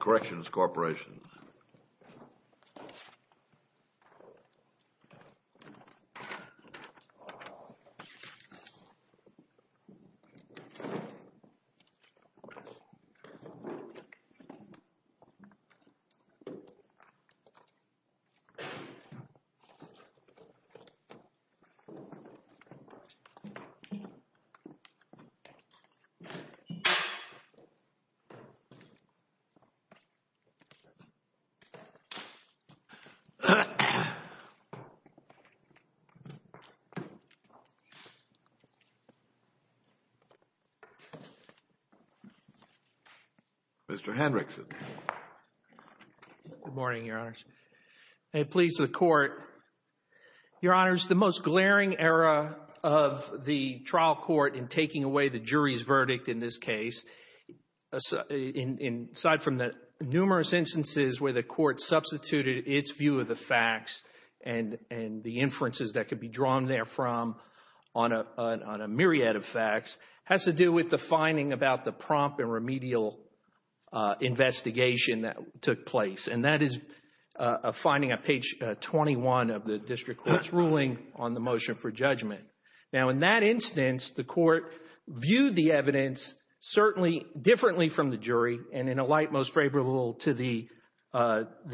Corrections Corporation Mr. Hendrickson. Good morning, Your Honors. May it please the Court, Your Honors, the most glaring error of the trial court in taking away the jury's verdict in this case, aside from the numerous instances where the Court substituted its view of the facts and the inferences that could be drawn there from on a myriad of facts, has to do with the finding about the prompt and remedial investigation that took place, and that is a finding on page 21 of the district court's ruling on the motion for judgment. Now, in that instance, the Court viewed the evidence certainly differently from the jury and in a light most favorable to the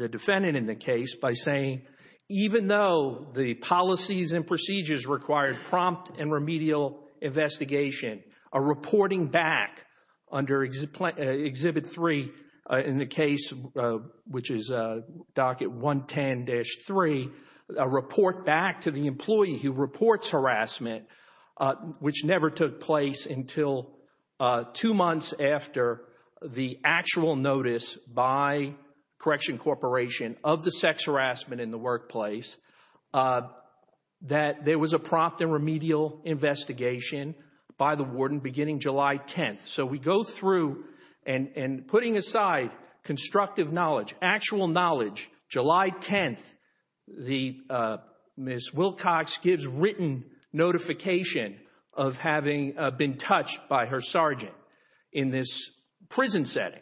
defendant in the case by saying, even though the policies and procedures required prompt and remedial investigation, a reporting back under Exhibit 3 in the case, which is Docket 110-3, a report back to the employee who reports harassment, which never took place until two months after the actual notice by Corrections Corporation of the sex harassment in the workplace, that there was a prompt and remedial investigation by the warden beginning July 10th. So we go through, and putting aside constructive knowledge, actual knowledge, July 10th, Ms. Wilcox gives written notification of having been touched by her sergeant in this prison setting.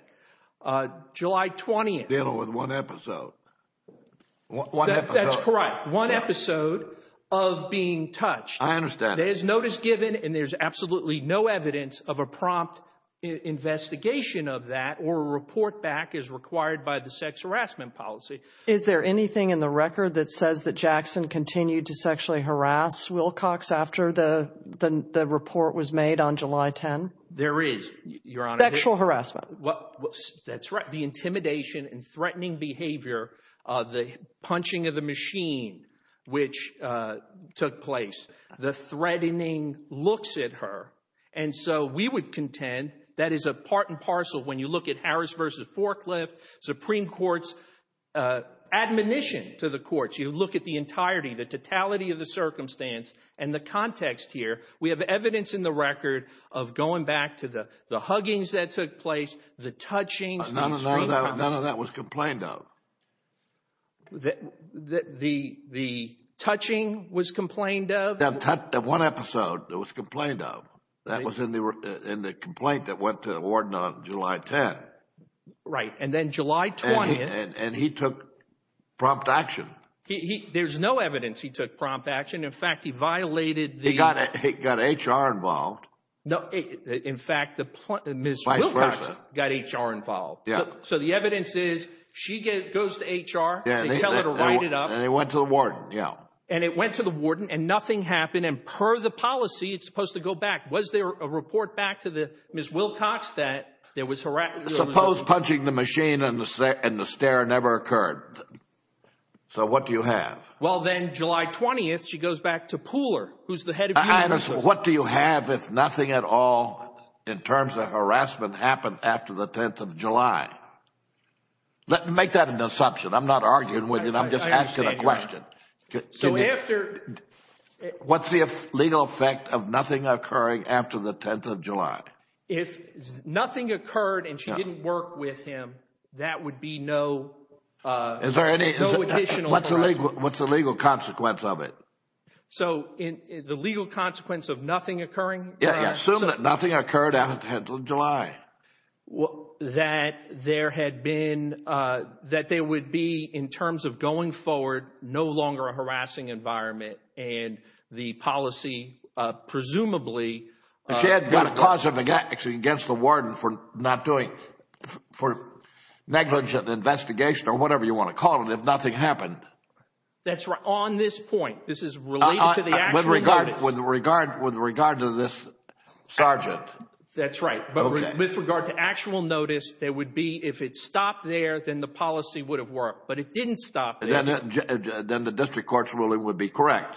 July 20th. Dealing with one episode. That's correct. One episode of being touched. I understand. There's notice given and there's absolutely no evidence of a prompt investigation of that or a report back as required by the sex harassment policy. Is there anything in the record that says that Jackson continued to sexually harass Wilcox after the report was made on July 10? There is, Your Honor. Sexual harassment. That's right. The intimidation and threatening behavior, the punching of the machine which took place, the threatening looks at her. And so we would contend that is a part and Harris v. Forklift, Supreme Court's admonition to the courts. You look at the entirety, the totality of the circumstance and the context here. We have evidence in the record of going back to the huggings that took place, the touching. None of that was complained of. The touching was complained of? One episode, it was complained of. That was in the complaint that went to the warden on July 10th. Right. And then July 20th. And he took prompt action. There's no evidence he took prompt action. In fact, he violated the... He got HR involved. No. In fact, Ms. Wilcox got HR involved. So the evidence is she goes to HR, they tell her to write it up. And it went to the warden, yeah. And it went to the warden and nothing happened. And per the policy, it's supposed to go back. Was there a report back to Ms. Wilcox that there was harassment? Suppose punching the machine and the stare never occurred. So what do you have? Well, then July 20th, she goes back to Pooler, who's the head of human resources. What do you have if nothing at all in terms of harassment happened after the 10th of July? Make that an assumption. I'm not arguing with you. I'm just asking a question. So after... What's the legal effect of nothing occurring after the 10th of July? If nothing occurred and she didn't work with him, that would be no additional harassment. What's the legal consequence of it? So the legal consequence of nothing occurring? Yeah. Assume that nothing occurred after the 10th of July. That there would be, in terms of going forward, no longer a harassing environment. And the policy presumably... She had got a cause of action against the warden for negligent investigation or whatever you want to call it, if nothing happened. That's right. On this point. This is related to the actual notice. With regard to this sergeant. That's right. But with regard to actual notice, there would be, if it stopped there, then the policy would have worked. But it didn't stop there. Then the district court's ruling would be correct.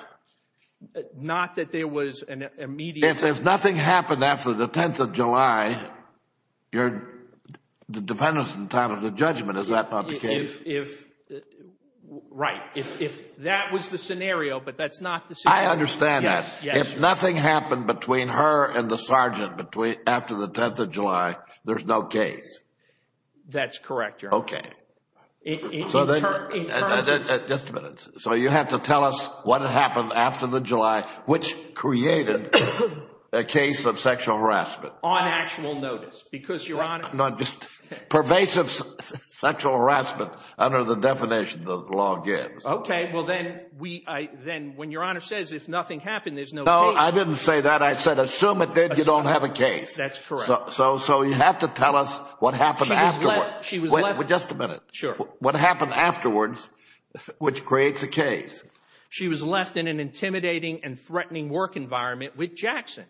Not that there was an immediate... If nothing happened after the 10th of July, the defendant's entitled to judgment. Is that not the case? Right. If that was the scenario, but that's not the situation. I understand that. If nothing happened between her and the sergeant after the 10th of July, there's no case. That's correct, Your Honor. Okay. In terms of... Just a minute. So you have to tell us what happened after the July, which created a case of sexual harassment. On actual notice. Because Your Honor... No, just pervasive sexual harassment under the definition the law gives. Okay. Well, then when Your Honor says, if nothing happened, there's no case... No, I didn't say that. I said, assume it did, you don't have a case. That's correct. So you have to tell us what happened afterward. Just a minute. Sure. What happened afterwards, which creates a case? She was left in an intimidating and threatening work environment with Jackson.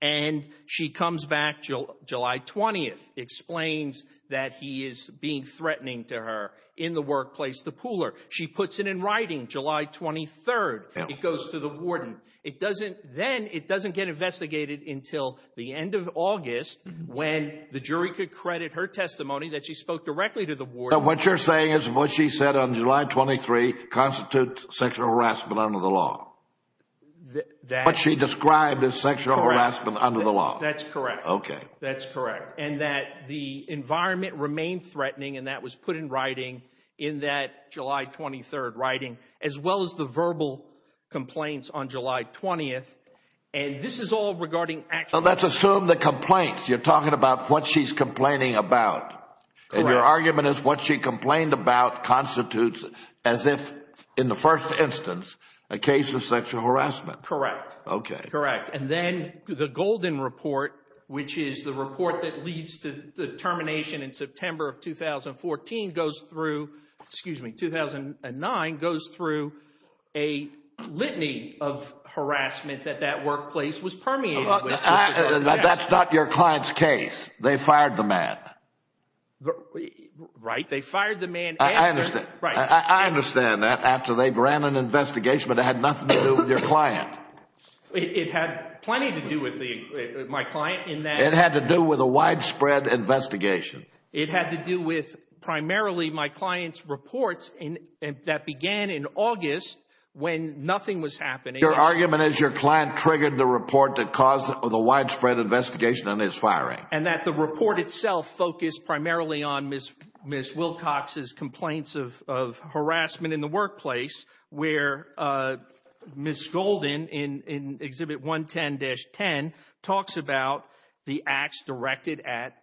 And she comes back July 20th, explains that he is being threatening to her in the workplace, the pooler. She puts it in writing July 23rd. It goes to the warden. Then it doesn't get investigated until the end of August, when the jury could credit her testimony that she spoke directly to the warden. What you're saying is what she said on July 23 constitutes sexual harassment under the law. That... What she described as sexual harassment under the law. That's correct. Okay. That's correct. And that the environment remained threatening, and that was put in writing in that July 23rd writing, as well as the verbal complaints on July 20th. And this is all regarding... So let's assume the complaints. You're talking about what she's complaining about. Correct. And your argument is what she complained about constitutes, as if in the first instance, a case of sexual harassment. Correct. Okay. Correct. And then the Golden Report, which is the report that leads to the termination in September of 2014, goes through... Excuse me, 2009, goes through a litany of harassment that that workplace was permeated with. That's not your client's case. They fired the man. Right. They fired the man after... I understand. Right. I understand that, after they ran an investigation, but it had nothing to do with your client. It had plenty to do with my client in that... It had to do with a widespread investigation. It had to do with, primarily, my client's reports that began in August when nothing was happening. Your argument is your client triggered the report that caused the widespread investigation and is firing. Right. And that the report itself focused primarily on Ms. Wilcox's complaints of harassment in the workplace, where Ms. Golden, in Exhibit 110-10, talks about the acts directed at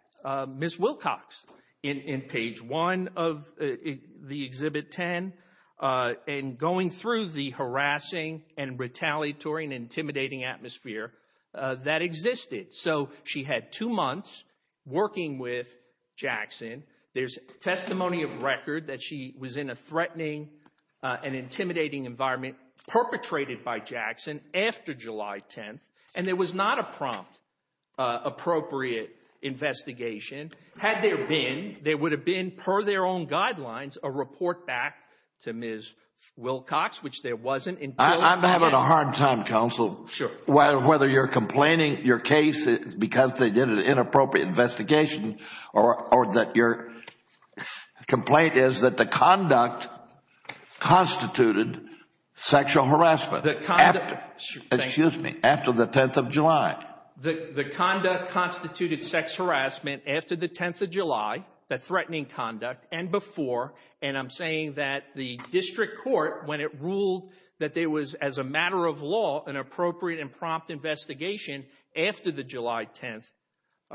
Ms. Wilcox in page 1 of the Exhibit 10, and going through the harassing and retaliatory and intimidating atmosphere that existed. So, she had two months working with Jackson. There's testimony of record that she was in a threatening and intimidating environment, perpetrated by Jackson after July 10th, and there was not a prompt, appropriate investigation. Had there been, there would have been, per their own guidelines, a report back to Ms. Wilcox, which there wasn't until... I'm having a hard time, counsel. Sure. Whether you're complaining your case is because they did an inappropriate investigation, or that your complaint is that the conduct constituted sexual harassment. The conduct... Excuse me. After the 10th of July. The conduct constituted sex harassment after the 10th of July, the threatening conduct, and before. And I'm saying that the district court, when it ruled that there was, as a matter of law, an appropriate and prompt investigation after the July 10th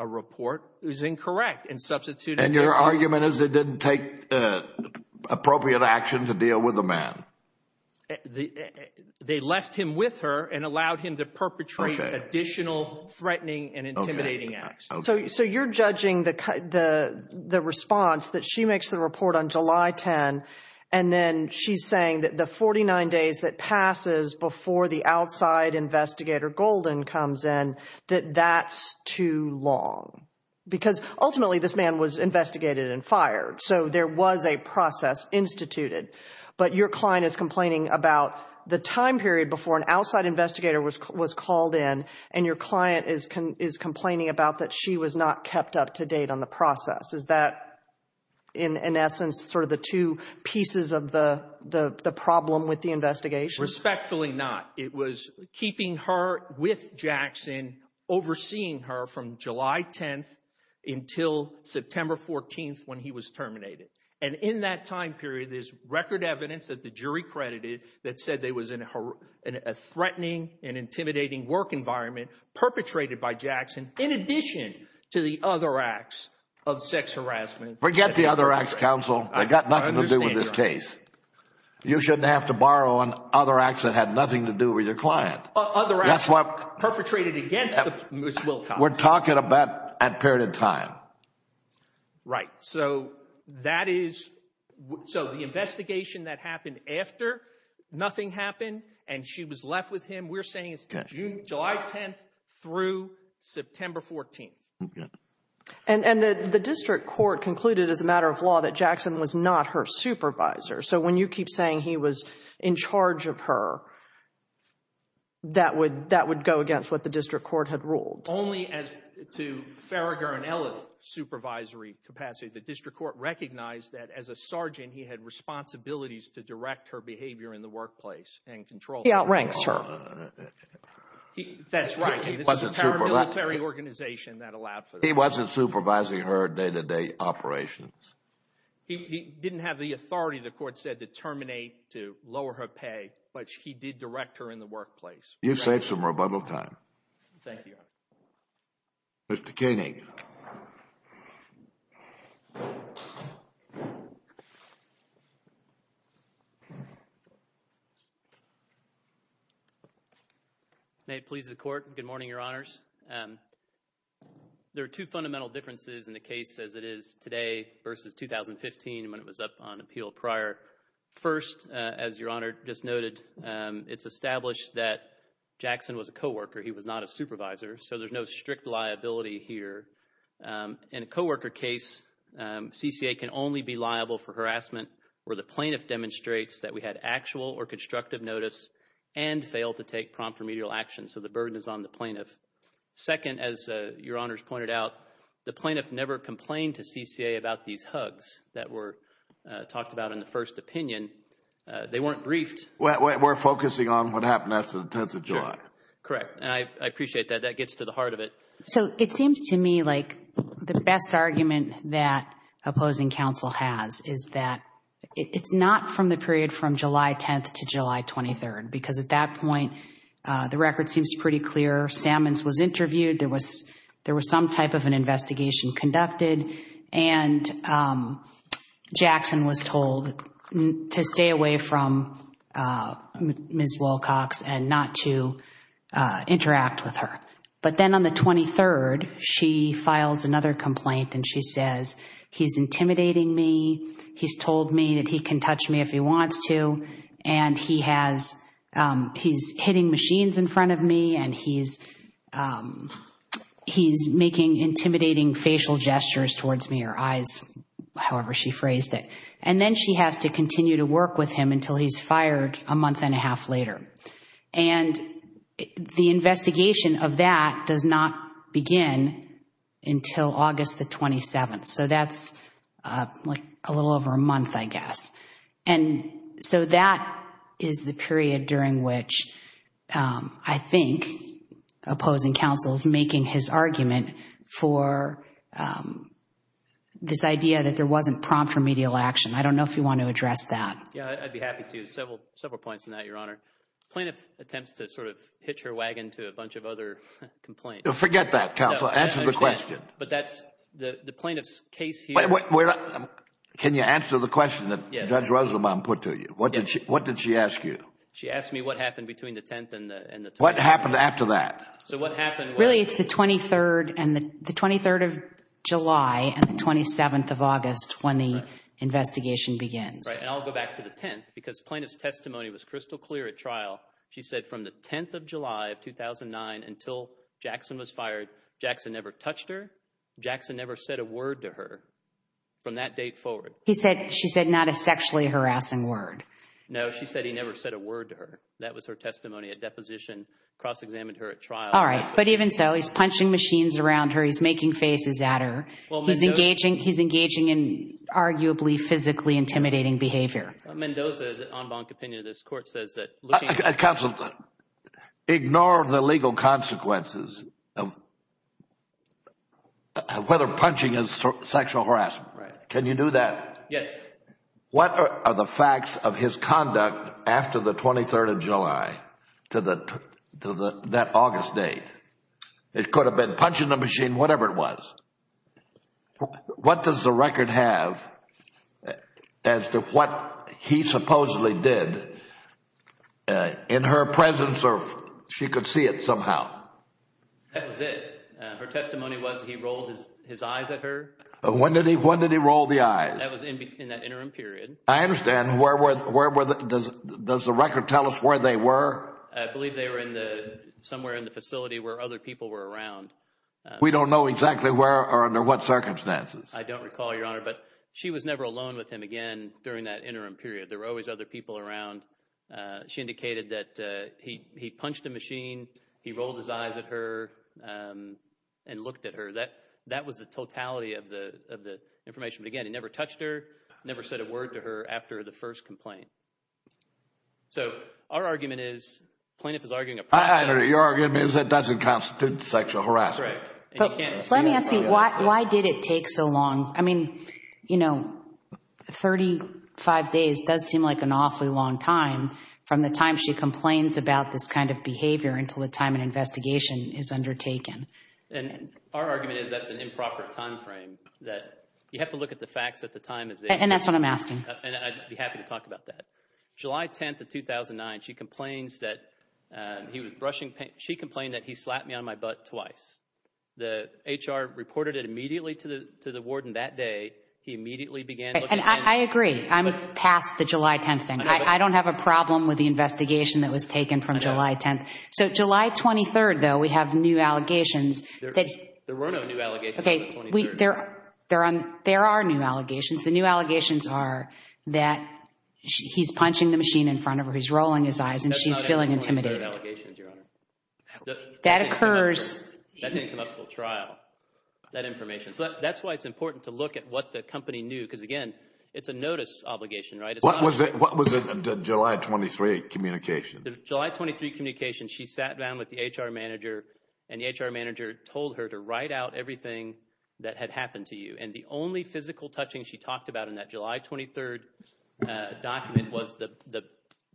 report, is incorrect. And substituted... And your argument is it didn't take appropriate action to deal with the man. They left him with her and allowed him to perpetrate additional threatening and intimidating acts. So you're judging the response that she makes to the report on July 10th, and then she's saying that the 49 days that passes before the outside investigator, Golden, comes in, that that's too long. Because ultimately, this man was investigated and fired. So there was a process instituted. But your client is complaining about the time period before an outside investigator was called in, and your client is complaining about that she was not kept up to date on the process. Is that, in essence, sort of the two pieces of the problem with the investigation? Respectfully not. It was keeping her with Jackson, overseeing her from July 10th until September 14th, when he was terminated. And in that time period, there's record evidence that the jury credited that said they was in a threatening and intimidating work environment, perpetrated by Jackson, in addition to the other acts of sex harassment. Forget the other acts, counsel. They've got nothing to do with this case. You shouldn't have to borrow on other acts that had nothing to do with your client. Other acts perpetrated against Ms. Wilcox. We're talking about that period of time. Right. So that is – so the investigation that happened after nothing happened and she was left with him, we're saying it's July 10th through September 14th. And the district court concluded as a matter of law that Jackson was not her supervisor. So when you keep saying he was in charge of her, that would go against what the district court had ruled. Only as to Farragher and Ellis' supervisory capacity, the district court recognized that as a sergeant he had responsibilities to direct her behavior in the workplace and control her. He outranks her. That's right. He wasn't supervising her day-to-day operations. He didn't have the authority, the court said, to terminate, to lower her pay, but he did direct her in the workplace. You've saved some rebuttal time. Thank you, Your Honor. Mr. Koenig. May it please the Court. Good morning, Your Honors. There are two fundamental differences in the case as it is today versus 2015 when it was up on appeal prior. First, as Your Honor just noted, it's established that Jackson was a co-worker. He was not a supervisor. So there's no strict liability here. In a co-worker case, CCA can only be liable for harassment where the plaintiff demonstrates that we had actual or constructive notice and failed to take prompt remedial action. So the burden is on the plaintiff. Second, as Your Honors pointed out, the plaintiff never complained to CCA about these hugs that were talked about in the first opinion. They weren't briefed. We're focusing on what happened after the 10th of July. Correct. I appreciate that. That gets to the heart of it. So it seems to me like the best argument that opposing counsel has is that it's not from the period from July 10th to July 23rd because at that point the record seems pretty clear. Sammons was interviewed. There was some type of an investigation conducted and Jackson was told to stay away from Ms. Wilcox and not to interact with her. But then on the 23rd, she files another complaint and she says, He's intimidating me. He's told me that he can touch me if he wants to and he's hitting machines in front of me and he's making intimidating facial gestures towards me or eyes, however she phrased it. And then she has to continue to work with him until he's fired a month and a half later. And the investigation of that does not begin until August the 27th. So that's a little over a month, I guess. And so that is the period during which I think opposing counsel is making his argument for this idea that there wasn't prompt remedial action. I don't know if you want to address that. I'd be happy to. Several points on that, Your Honor. Plaintiff attempts to sort of hitch her wagon to a bunch of other complaints. Forget that, counsel. Answer the question. But that's the plaintiff's case here. Can you answer the question that Judge Rosenbaum put to you? What did she ask you? She asked me what happened between the 10th and the 12th. What happened after that? Really, it's the 23rd of July and the 27th of August when the investigation begins. And I'll go back to the 10th because plaintiff's testimony was crystal clear at trial. She said from the 10th of July of 2009 until Jackson was fired, Jackson never touched her. Jackson never said a word to her from that date forward. She said not a sexually harassing word. No, she said he never said a word to her. That was her testimony at deposition, cross-examined her at trial. All right. But even so, he's punching machines around her. He's making faces at her. He's engaging in arguably physically intimidating behavior. Mendoza, the en banc opinion of this court, says that looking— Counsel, ignore the legal consequences of whether punching is sexual harassment. Can you do that? Yes. What are the facts of his conduct after the 23rd of July to that August date? It could have been punching the machine, whatever it was. What does the record have as to what he supposedly did in her presence or she could see it somehow? That was it. Her testimony was he rolled his eyes at her. When did he roll the eyes? That was in that interim period. I understand. Does the record tell us where they were? I believe they were somewhere in the facility where other people were around. We don't know exactly where or under what circumstances. I don't recall, Your Honor. But she was never alone with him again during that interim period. There were always other people around. She indicated that he punched a machine. He rolled his eyes at her and looked at her. That was the totality of the information. But again, he never touched her, never said a word to her after the first complaint. So our argument is plaintiff is arguing a process. Your argument is that doesn't constitute sexual harassment. Correct. Let me ask you, why did it take so long? I mean, you know, 35 days does seem like an awfully long time from the time she complains about this kind of behavior until the time an investigation is undertaken. Our argument is that's an improper time frame. That's what I'm asking. And I'd be happy to talk about that. July 10th of 2009, she complains that he was brushing paint. She complained that he slapped me on my butt twice. The HR reported it immediately to the warden that day. He immediately began looking at me. And I agree. I'm past the July 10th thing. I don't have a problem with the investigation that was taken from July 10th. So July 23rd, though, we have new allegations. There were no new allegations on the 23rd. There are new allegations. The new allegations are that he's punching the machine in front of her, he's rolling his eyes, and she's feeling intimidated. That didn't come up until trial, that information. So that's why it's important to look at what the company knew. Because again, it's a notice obligation, right? What was the July 23rd communication? The July 23rd communication, she sat down with the HR manager, and the HR manager told her to write out everything that had happened to you. And the only physical touching she talked about in that July 23rd document was the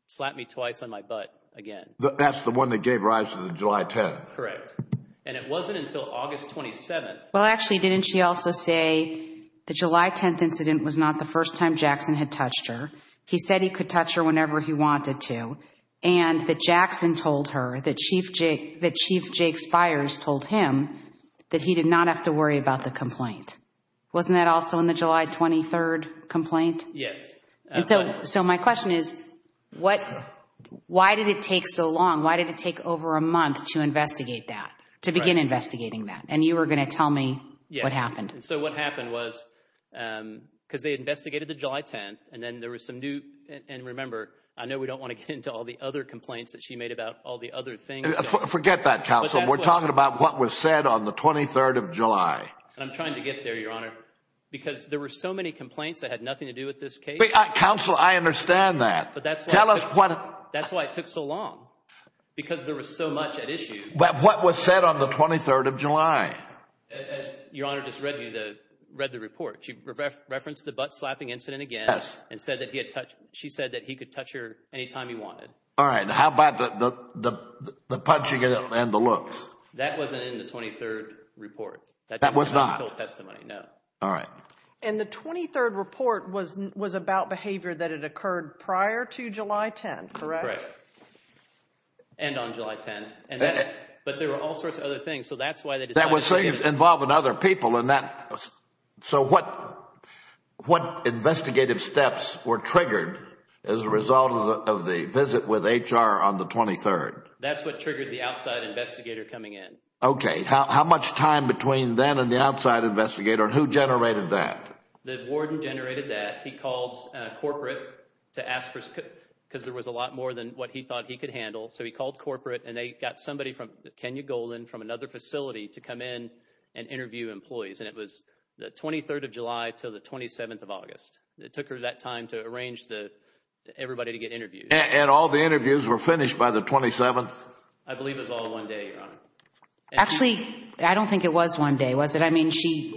slap me twice on my butt again. That's the one that gave rise to the July 10th? Correct. And it wasn't until August 27th. Well, actually, didn't she also say the July 10th incident was not the first time Jackson had touched her? He said he could touch her whenever he wanted to. And that Jackson told her, that Chief Jake Spires told him that he did not have to worry about the complaint. Wasn't that also in the July 23rd complaint? Yes. So my question is, why did it take so long? Why did it take over a month to investigate that, to begin investigating that? And you were going to tell me what happened. So what happened was, because they investigated the July 10th, and then there was some new, and remember, I know we don't want to get into all the other complaints that she made about all the other things. Forget that, counsel. We're talking about what was said on the 23rd of July. I'm trying to get there, Your Honor, because there were so many complaints that had nothing to do with this case. Counsel, I understand that. That's why it took so long, because there was so much at issue. What was said on the 23rd of July? Your Honor just read the report. She referenced the butt-slapping incident again, and she said that he could touch her anytime he wanted. All right. How about the punching and the looks? That wasn't in the 23rd report. That was not? No. All right. And the 23rd report was about behavior that had occurred prior to July 10th, correct? Correct. And on July 10th. But there were all sorts of other things, so that's why they decided to... That was involved with other people, and that... So what investigative steps were triggered as a result of the visit with HR on the 23rd? That's what triggered the outside investigator coming in. Okay. How much time between then and the outside investigator, and who generated that? The warden generated that. He called corporate to ask for... because there was a lot more than what he thought he could handle, so he called corporate, and they got somebody from Kenya Golden from another facility to come in and interview employees, and it was the 23rd of July till the 27th of August. It took her that time to arrange everybody to get interviewed. And all the interviews were finished by the 27th? I believe it was all one day, Your Honor. Actually, I don't think it was one day, was it? I mean,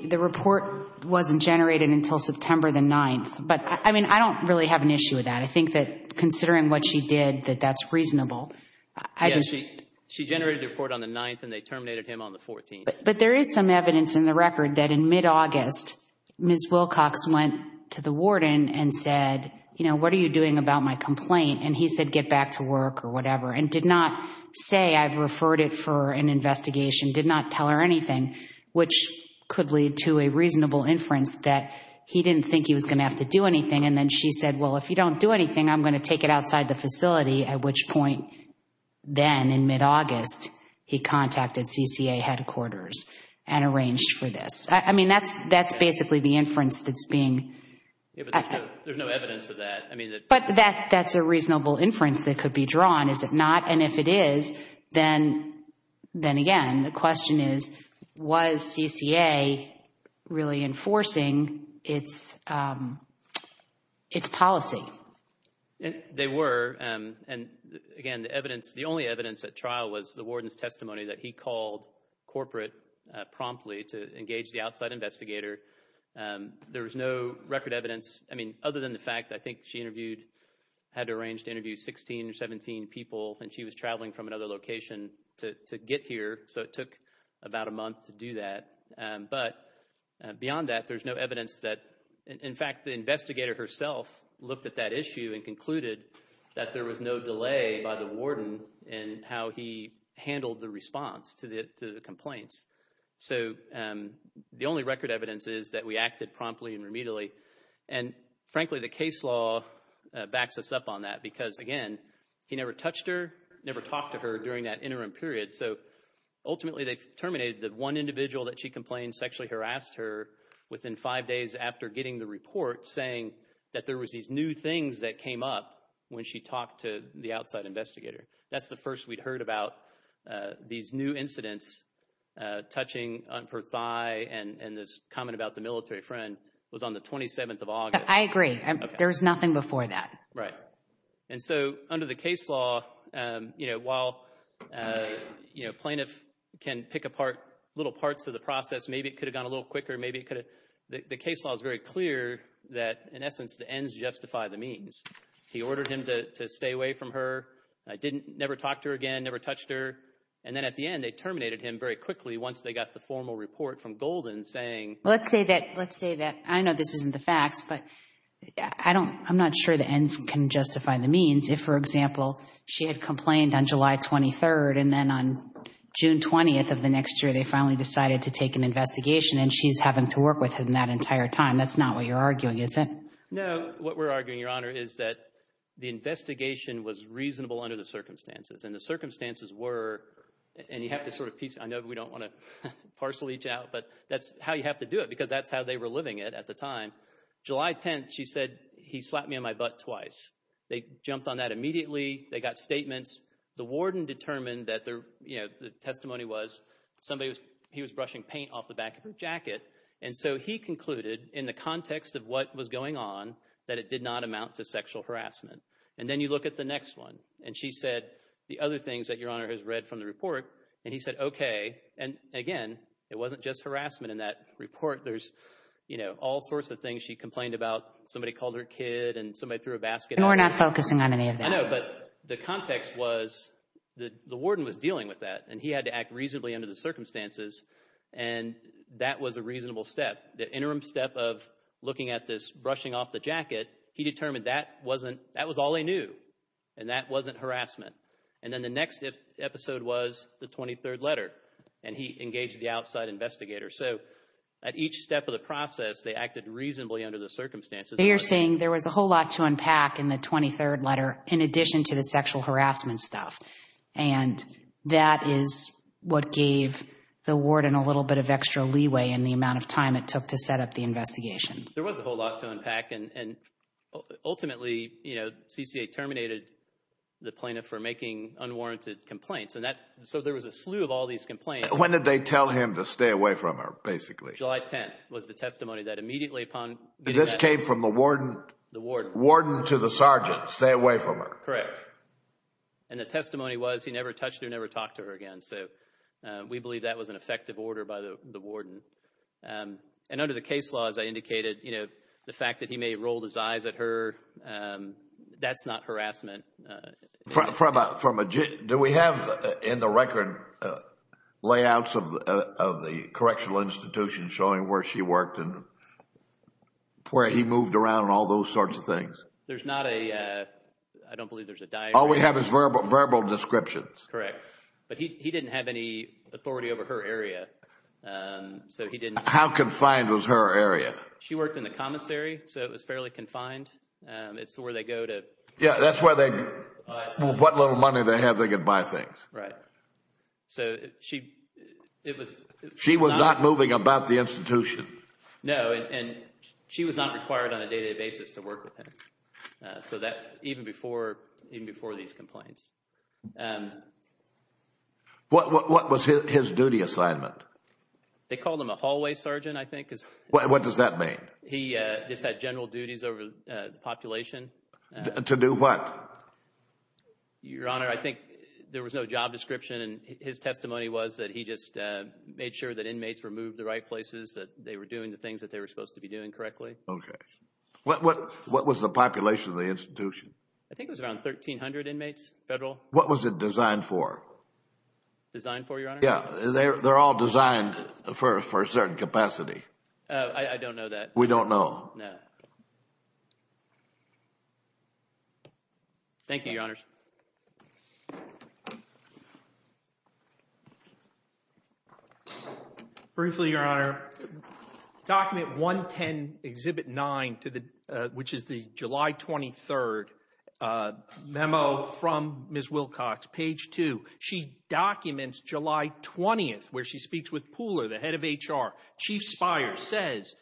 the report wasn't generated until September the 9th. But, I mean, I don't really have an issue with that. I think that, considering what she did, that that's reasonable. Yeah, she generated the report on the 9th, and they terminated him on the 14th. But there is some evidence in the record that in mid-August, Ms. Wilcox went to the warden and said, you know, what are you doing about my complaint? And he said, get back to work or whatever, and did not say, I've referred it for an investigation, did not tell her anything, which could lead to a reasonable inference that he didn't think he was going to have to do anything, and then she said, well, if you don't do anything, I'm going to take it outside the facility, at which point, then in mid-August, he contacted CCA headquarters and arranged for this. I mean, that's basically the inference that's being... Yeah, but there's no evidence of that. I mean... But that's a reasonable inference that could be drawn, is it not? And if it is, then again, the question is, was CCA really enforcing its policy? They were, and again, the evidence, the only evidence at trial was the warden's testimony that he called corporate promptly to engage the outside investigator. There was no record evidence, I mean, other than the fact that I think she interviewed, had to arrange to interview 16 or 17 people, and she was traveling from another location to get here, so it took about a month to do that. But beyond that, there's no evidence that... In fact, the investigator herself looked at that issue and concluded that there was no delay by the warden in how he handled the response to the complaints. So, the only record evidence is that we acted promptly and remedially, and frankly, the case law backs us up on that, because again, he never touched her, never talked to her during that interim period, so ultimately, they terminated the one individual that she complained sexually harassed her within five days after getting the report, saying that there was these new things that came up when she talked to the outside investigator. That's the first we'd heard about these new incidents touching on her thigh, and this comment about the military friend was on the 27th of August. I agree. There was nothing before that. Right. And so, under the case law, you know, while, you know, plaintiff can pick apart little parts of the process, maybe it could have gone a little quicker, maybe it could have... The case law is very clear that, in essence, the ends justify the means. He ordered him to stay away from her, never talked to her again, never touched her, and then, at the end, they terminated him very quickly once they got the formal report from Golden, saying... Let's say that, I know this isn't the facts, but I'm not sure the ends can justify the means if, for example, she had complained on July 23rd and then on June 20th of the next year, they finally decided to take an investigation and she's having to work with him that entire time. That's not what you're arguing, is it? No, what we're arguing, Your Honor, is that the investigation was reasonable under the circumstances and the circumstances were... And you have to sort of piece... I know we don't want to parcel each out, but that's how you have to do it because that's how they were living it at the time. July 10th, she said, he slapped me on my butt twice. They jumped on that immediately. They got statements. The warden determined that their, you know, the testimony was somebody was... He was brushing paint off the back of her jacket and so he concluded in the context of what was going on that it did not amount to sexual harassment. And then you look at the next one and she said, the other things that Your Honor has read from the report and he said, okay, and again, it wasn't just harassment in that report. There's, you know, all sorts of things she complained about. Somebody called her kid and somebody threw a basket at her. And we're not focusing on any of that. I know, but the context was the warden was dealing with that and he had to act reasonably under the circumstances and that was a reasonable step. The interim step of looking at this, brushing off the jacket, he determined that wasn't, that was all they knew and that wasn't harassment. And then the next episode was the 23rd letter and he engaged the outside investigator. So, at each step of the process, they acted reasonably under the circumstances. You're saying there was a whole lot to unpack in the 23rd letter in addition to the sexual harassment stuff and that is what gave the warden a little bit of extra leeway in the amount of time it took to set up the investigation. There was a whole lot to unpack and ultimately, you know, CCA terminated the plaintiff for making unwarranted complaints and that, so there was a slew of all these complaints. When did they tell him to stay away from her basically? July 10th was the testimony that immediately upon getting that... This came from the warden? The warden. Warden to the sergeant, stay away from her. Correct. And the testimony was he never touched her and never talked to her again so we believe that was an effective order by the warden. And under the case law as I indicated, you know, the fact that he may have rolled his eyes at her, that's not harassment. From a... Do we have in the record layouts of the correctional institution showing where she worked and where he moved around and all those sorts of things? There's not a... I don't believe there's a diagram. All we have is verbal descriptions. Correct. But he didn't have any authority over her area so he didn't... How confined was her area? She worked in the commissary so it was fairly confined. It's where they go to... Yeah, that's where they... What little money they have they can buy things. Right. So she... It was... She was not moving about the institution. No and she was not required on a day-to-day basis to work with him so that even before even before these complaints. What was his duty assignment? They called him a hallway sergeant I think. What does that mean? He just had general duties over the population. To do what? Your Honor, there was no job description and his testimony was that he just made sure that inmates were moved to the right places, that they were doing the things that they were supposed to be doing correctly. Okay. What was the population of the institution? I think it was around 1,300 inmates, federal. What was it designed for? Designed for, Your Honor? Yeah, they're all designed for a certain capacity. I don't know that. We don't know. No. Thank you, Your Honors. Briefly, Your Honor, Document 110, Exhibit 9, which is the July 23rd memo from Ms. Wilcox, page 2. She documents July 20th where she speaks with Pooler, the head of HR. Chief Spire says,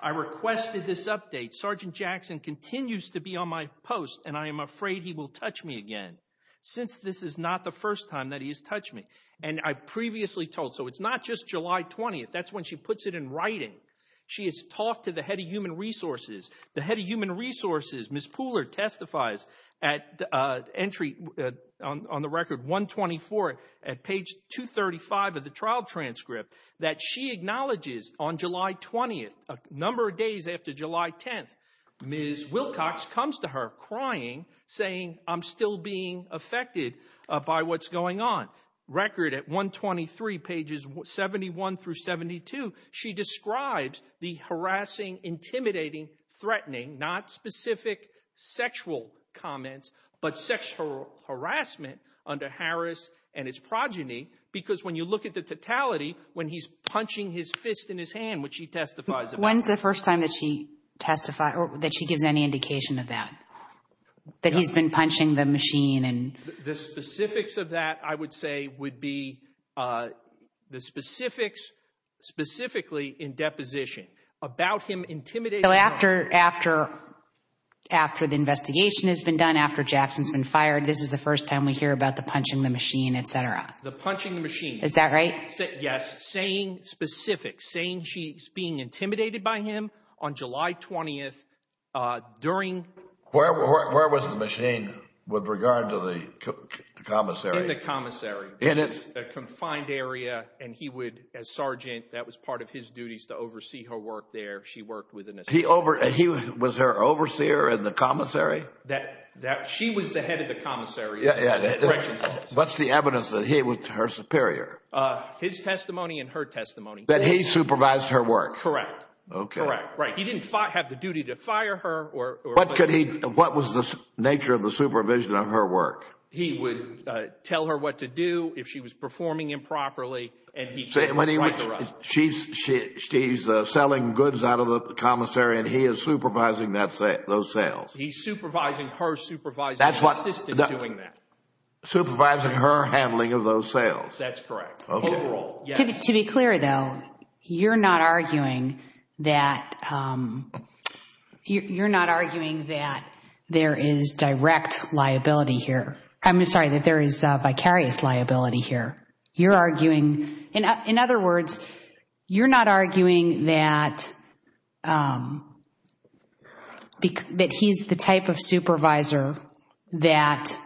I requested this update. Sergeant Jackson continues to be on my post and I am afraid he will touch me again since this is not the first time that he has touched me. And I've previously told, so it's not just July 20th. That's when she puts it in writing. She has talked to the head of Human Resources. The head of Human Resources, Ms. Pooler, testifies at entry on the record 124 at page 235 of the trial transcript that she acknowledges on July 20th, a number of days after July 10th, Ms. Wilcox comes to her crying saying, I'm still being affected by what's going on. Record at 123 pages 71 through 72, she describes the harassing, intimidating, threatening, not specific sexual comments, but sexual harassment under Harris and his progeny because when you look at the totality when he's punching his fist in his hand, which he testifies about. When's the first time that she testified, or that she gives any indication of that? That he's been being, uh, the specifics specifically in deposition about him intimidating her. So after, after, after the investigation has been done, after Jackson's been fired, this is the first time we hear about the punching the machine, etc. The punching the machine. Is that right? Yes. Saying specific, saying she's being intimidated by him on July 20th, uh, during the investigation. Where, where, where was the with regard to the commissary? In the commissary. It is a confined area and he would, as sergeant, that was part of his duties to oversee her work there. She worked with an assistant. He over, he was her overseer in the commissary? That, that, she was the head of the commissary. Yeah, correction. What's the evidence that he was her superior? Uh, his testimony and her testimony. That he supervised her work? Correct. Okay. Correct. Right. He didn't have the duty to fire her or, or. What could he, what was the nature of the supervision of her work? He would, uh, tell her what to do if she was performing improperly and he would write her up. She's, she, she's, uh, selling goods out of the commissary and he is supervising that, those sales? He's supervising her supervising the assistant doing that. Supervising her handling of those sales? That's correct. Okay. Overall, yes. To be clear though, you're not arguing that, um, you're not arguing that there is direct liability here. I'm sorry, that there is vicarious liability here. You're arguing, in other words, you're not arguing that, um, that he's the type of supervisor that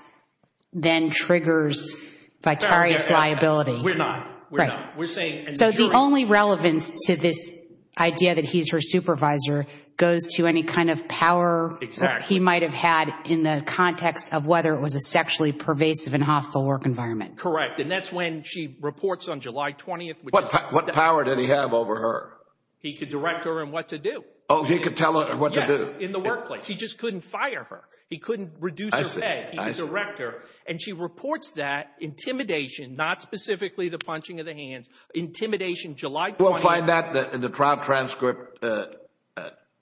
then triggers vicarious liability. We're not. We're not. Right. We're saying. So the only relevance to this idea that he's her supervisor goes to any kind of power he might have had in the context of whether it was a sexually pervasive and hostile work environment. Correct. And that's when she reports on July 20th. What power did he have over her? He could direct her in what to do. Oh, he could tell her what to do? Yes. In the workplace. He just couldn't fire her. He couldn't reduce her pay. I see. And you find that in the trial transcript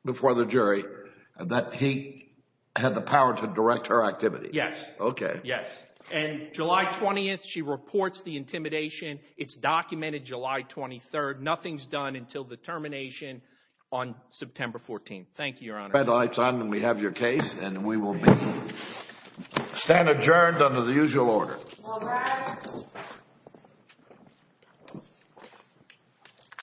before the jury that he had the power to direct her activity. Yes. Okay. Yes. And July 20th she reports the intimidation. It's documented July 23rd. Nothing's done until the termination on September 14th. Thank you, Your Honor. Red light's on and we have your case and we will be stand adjourned under the usual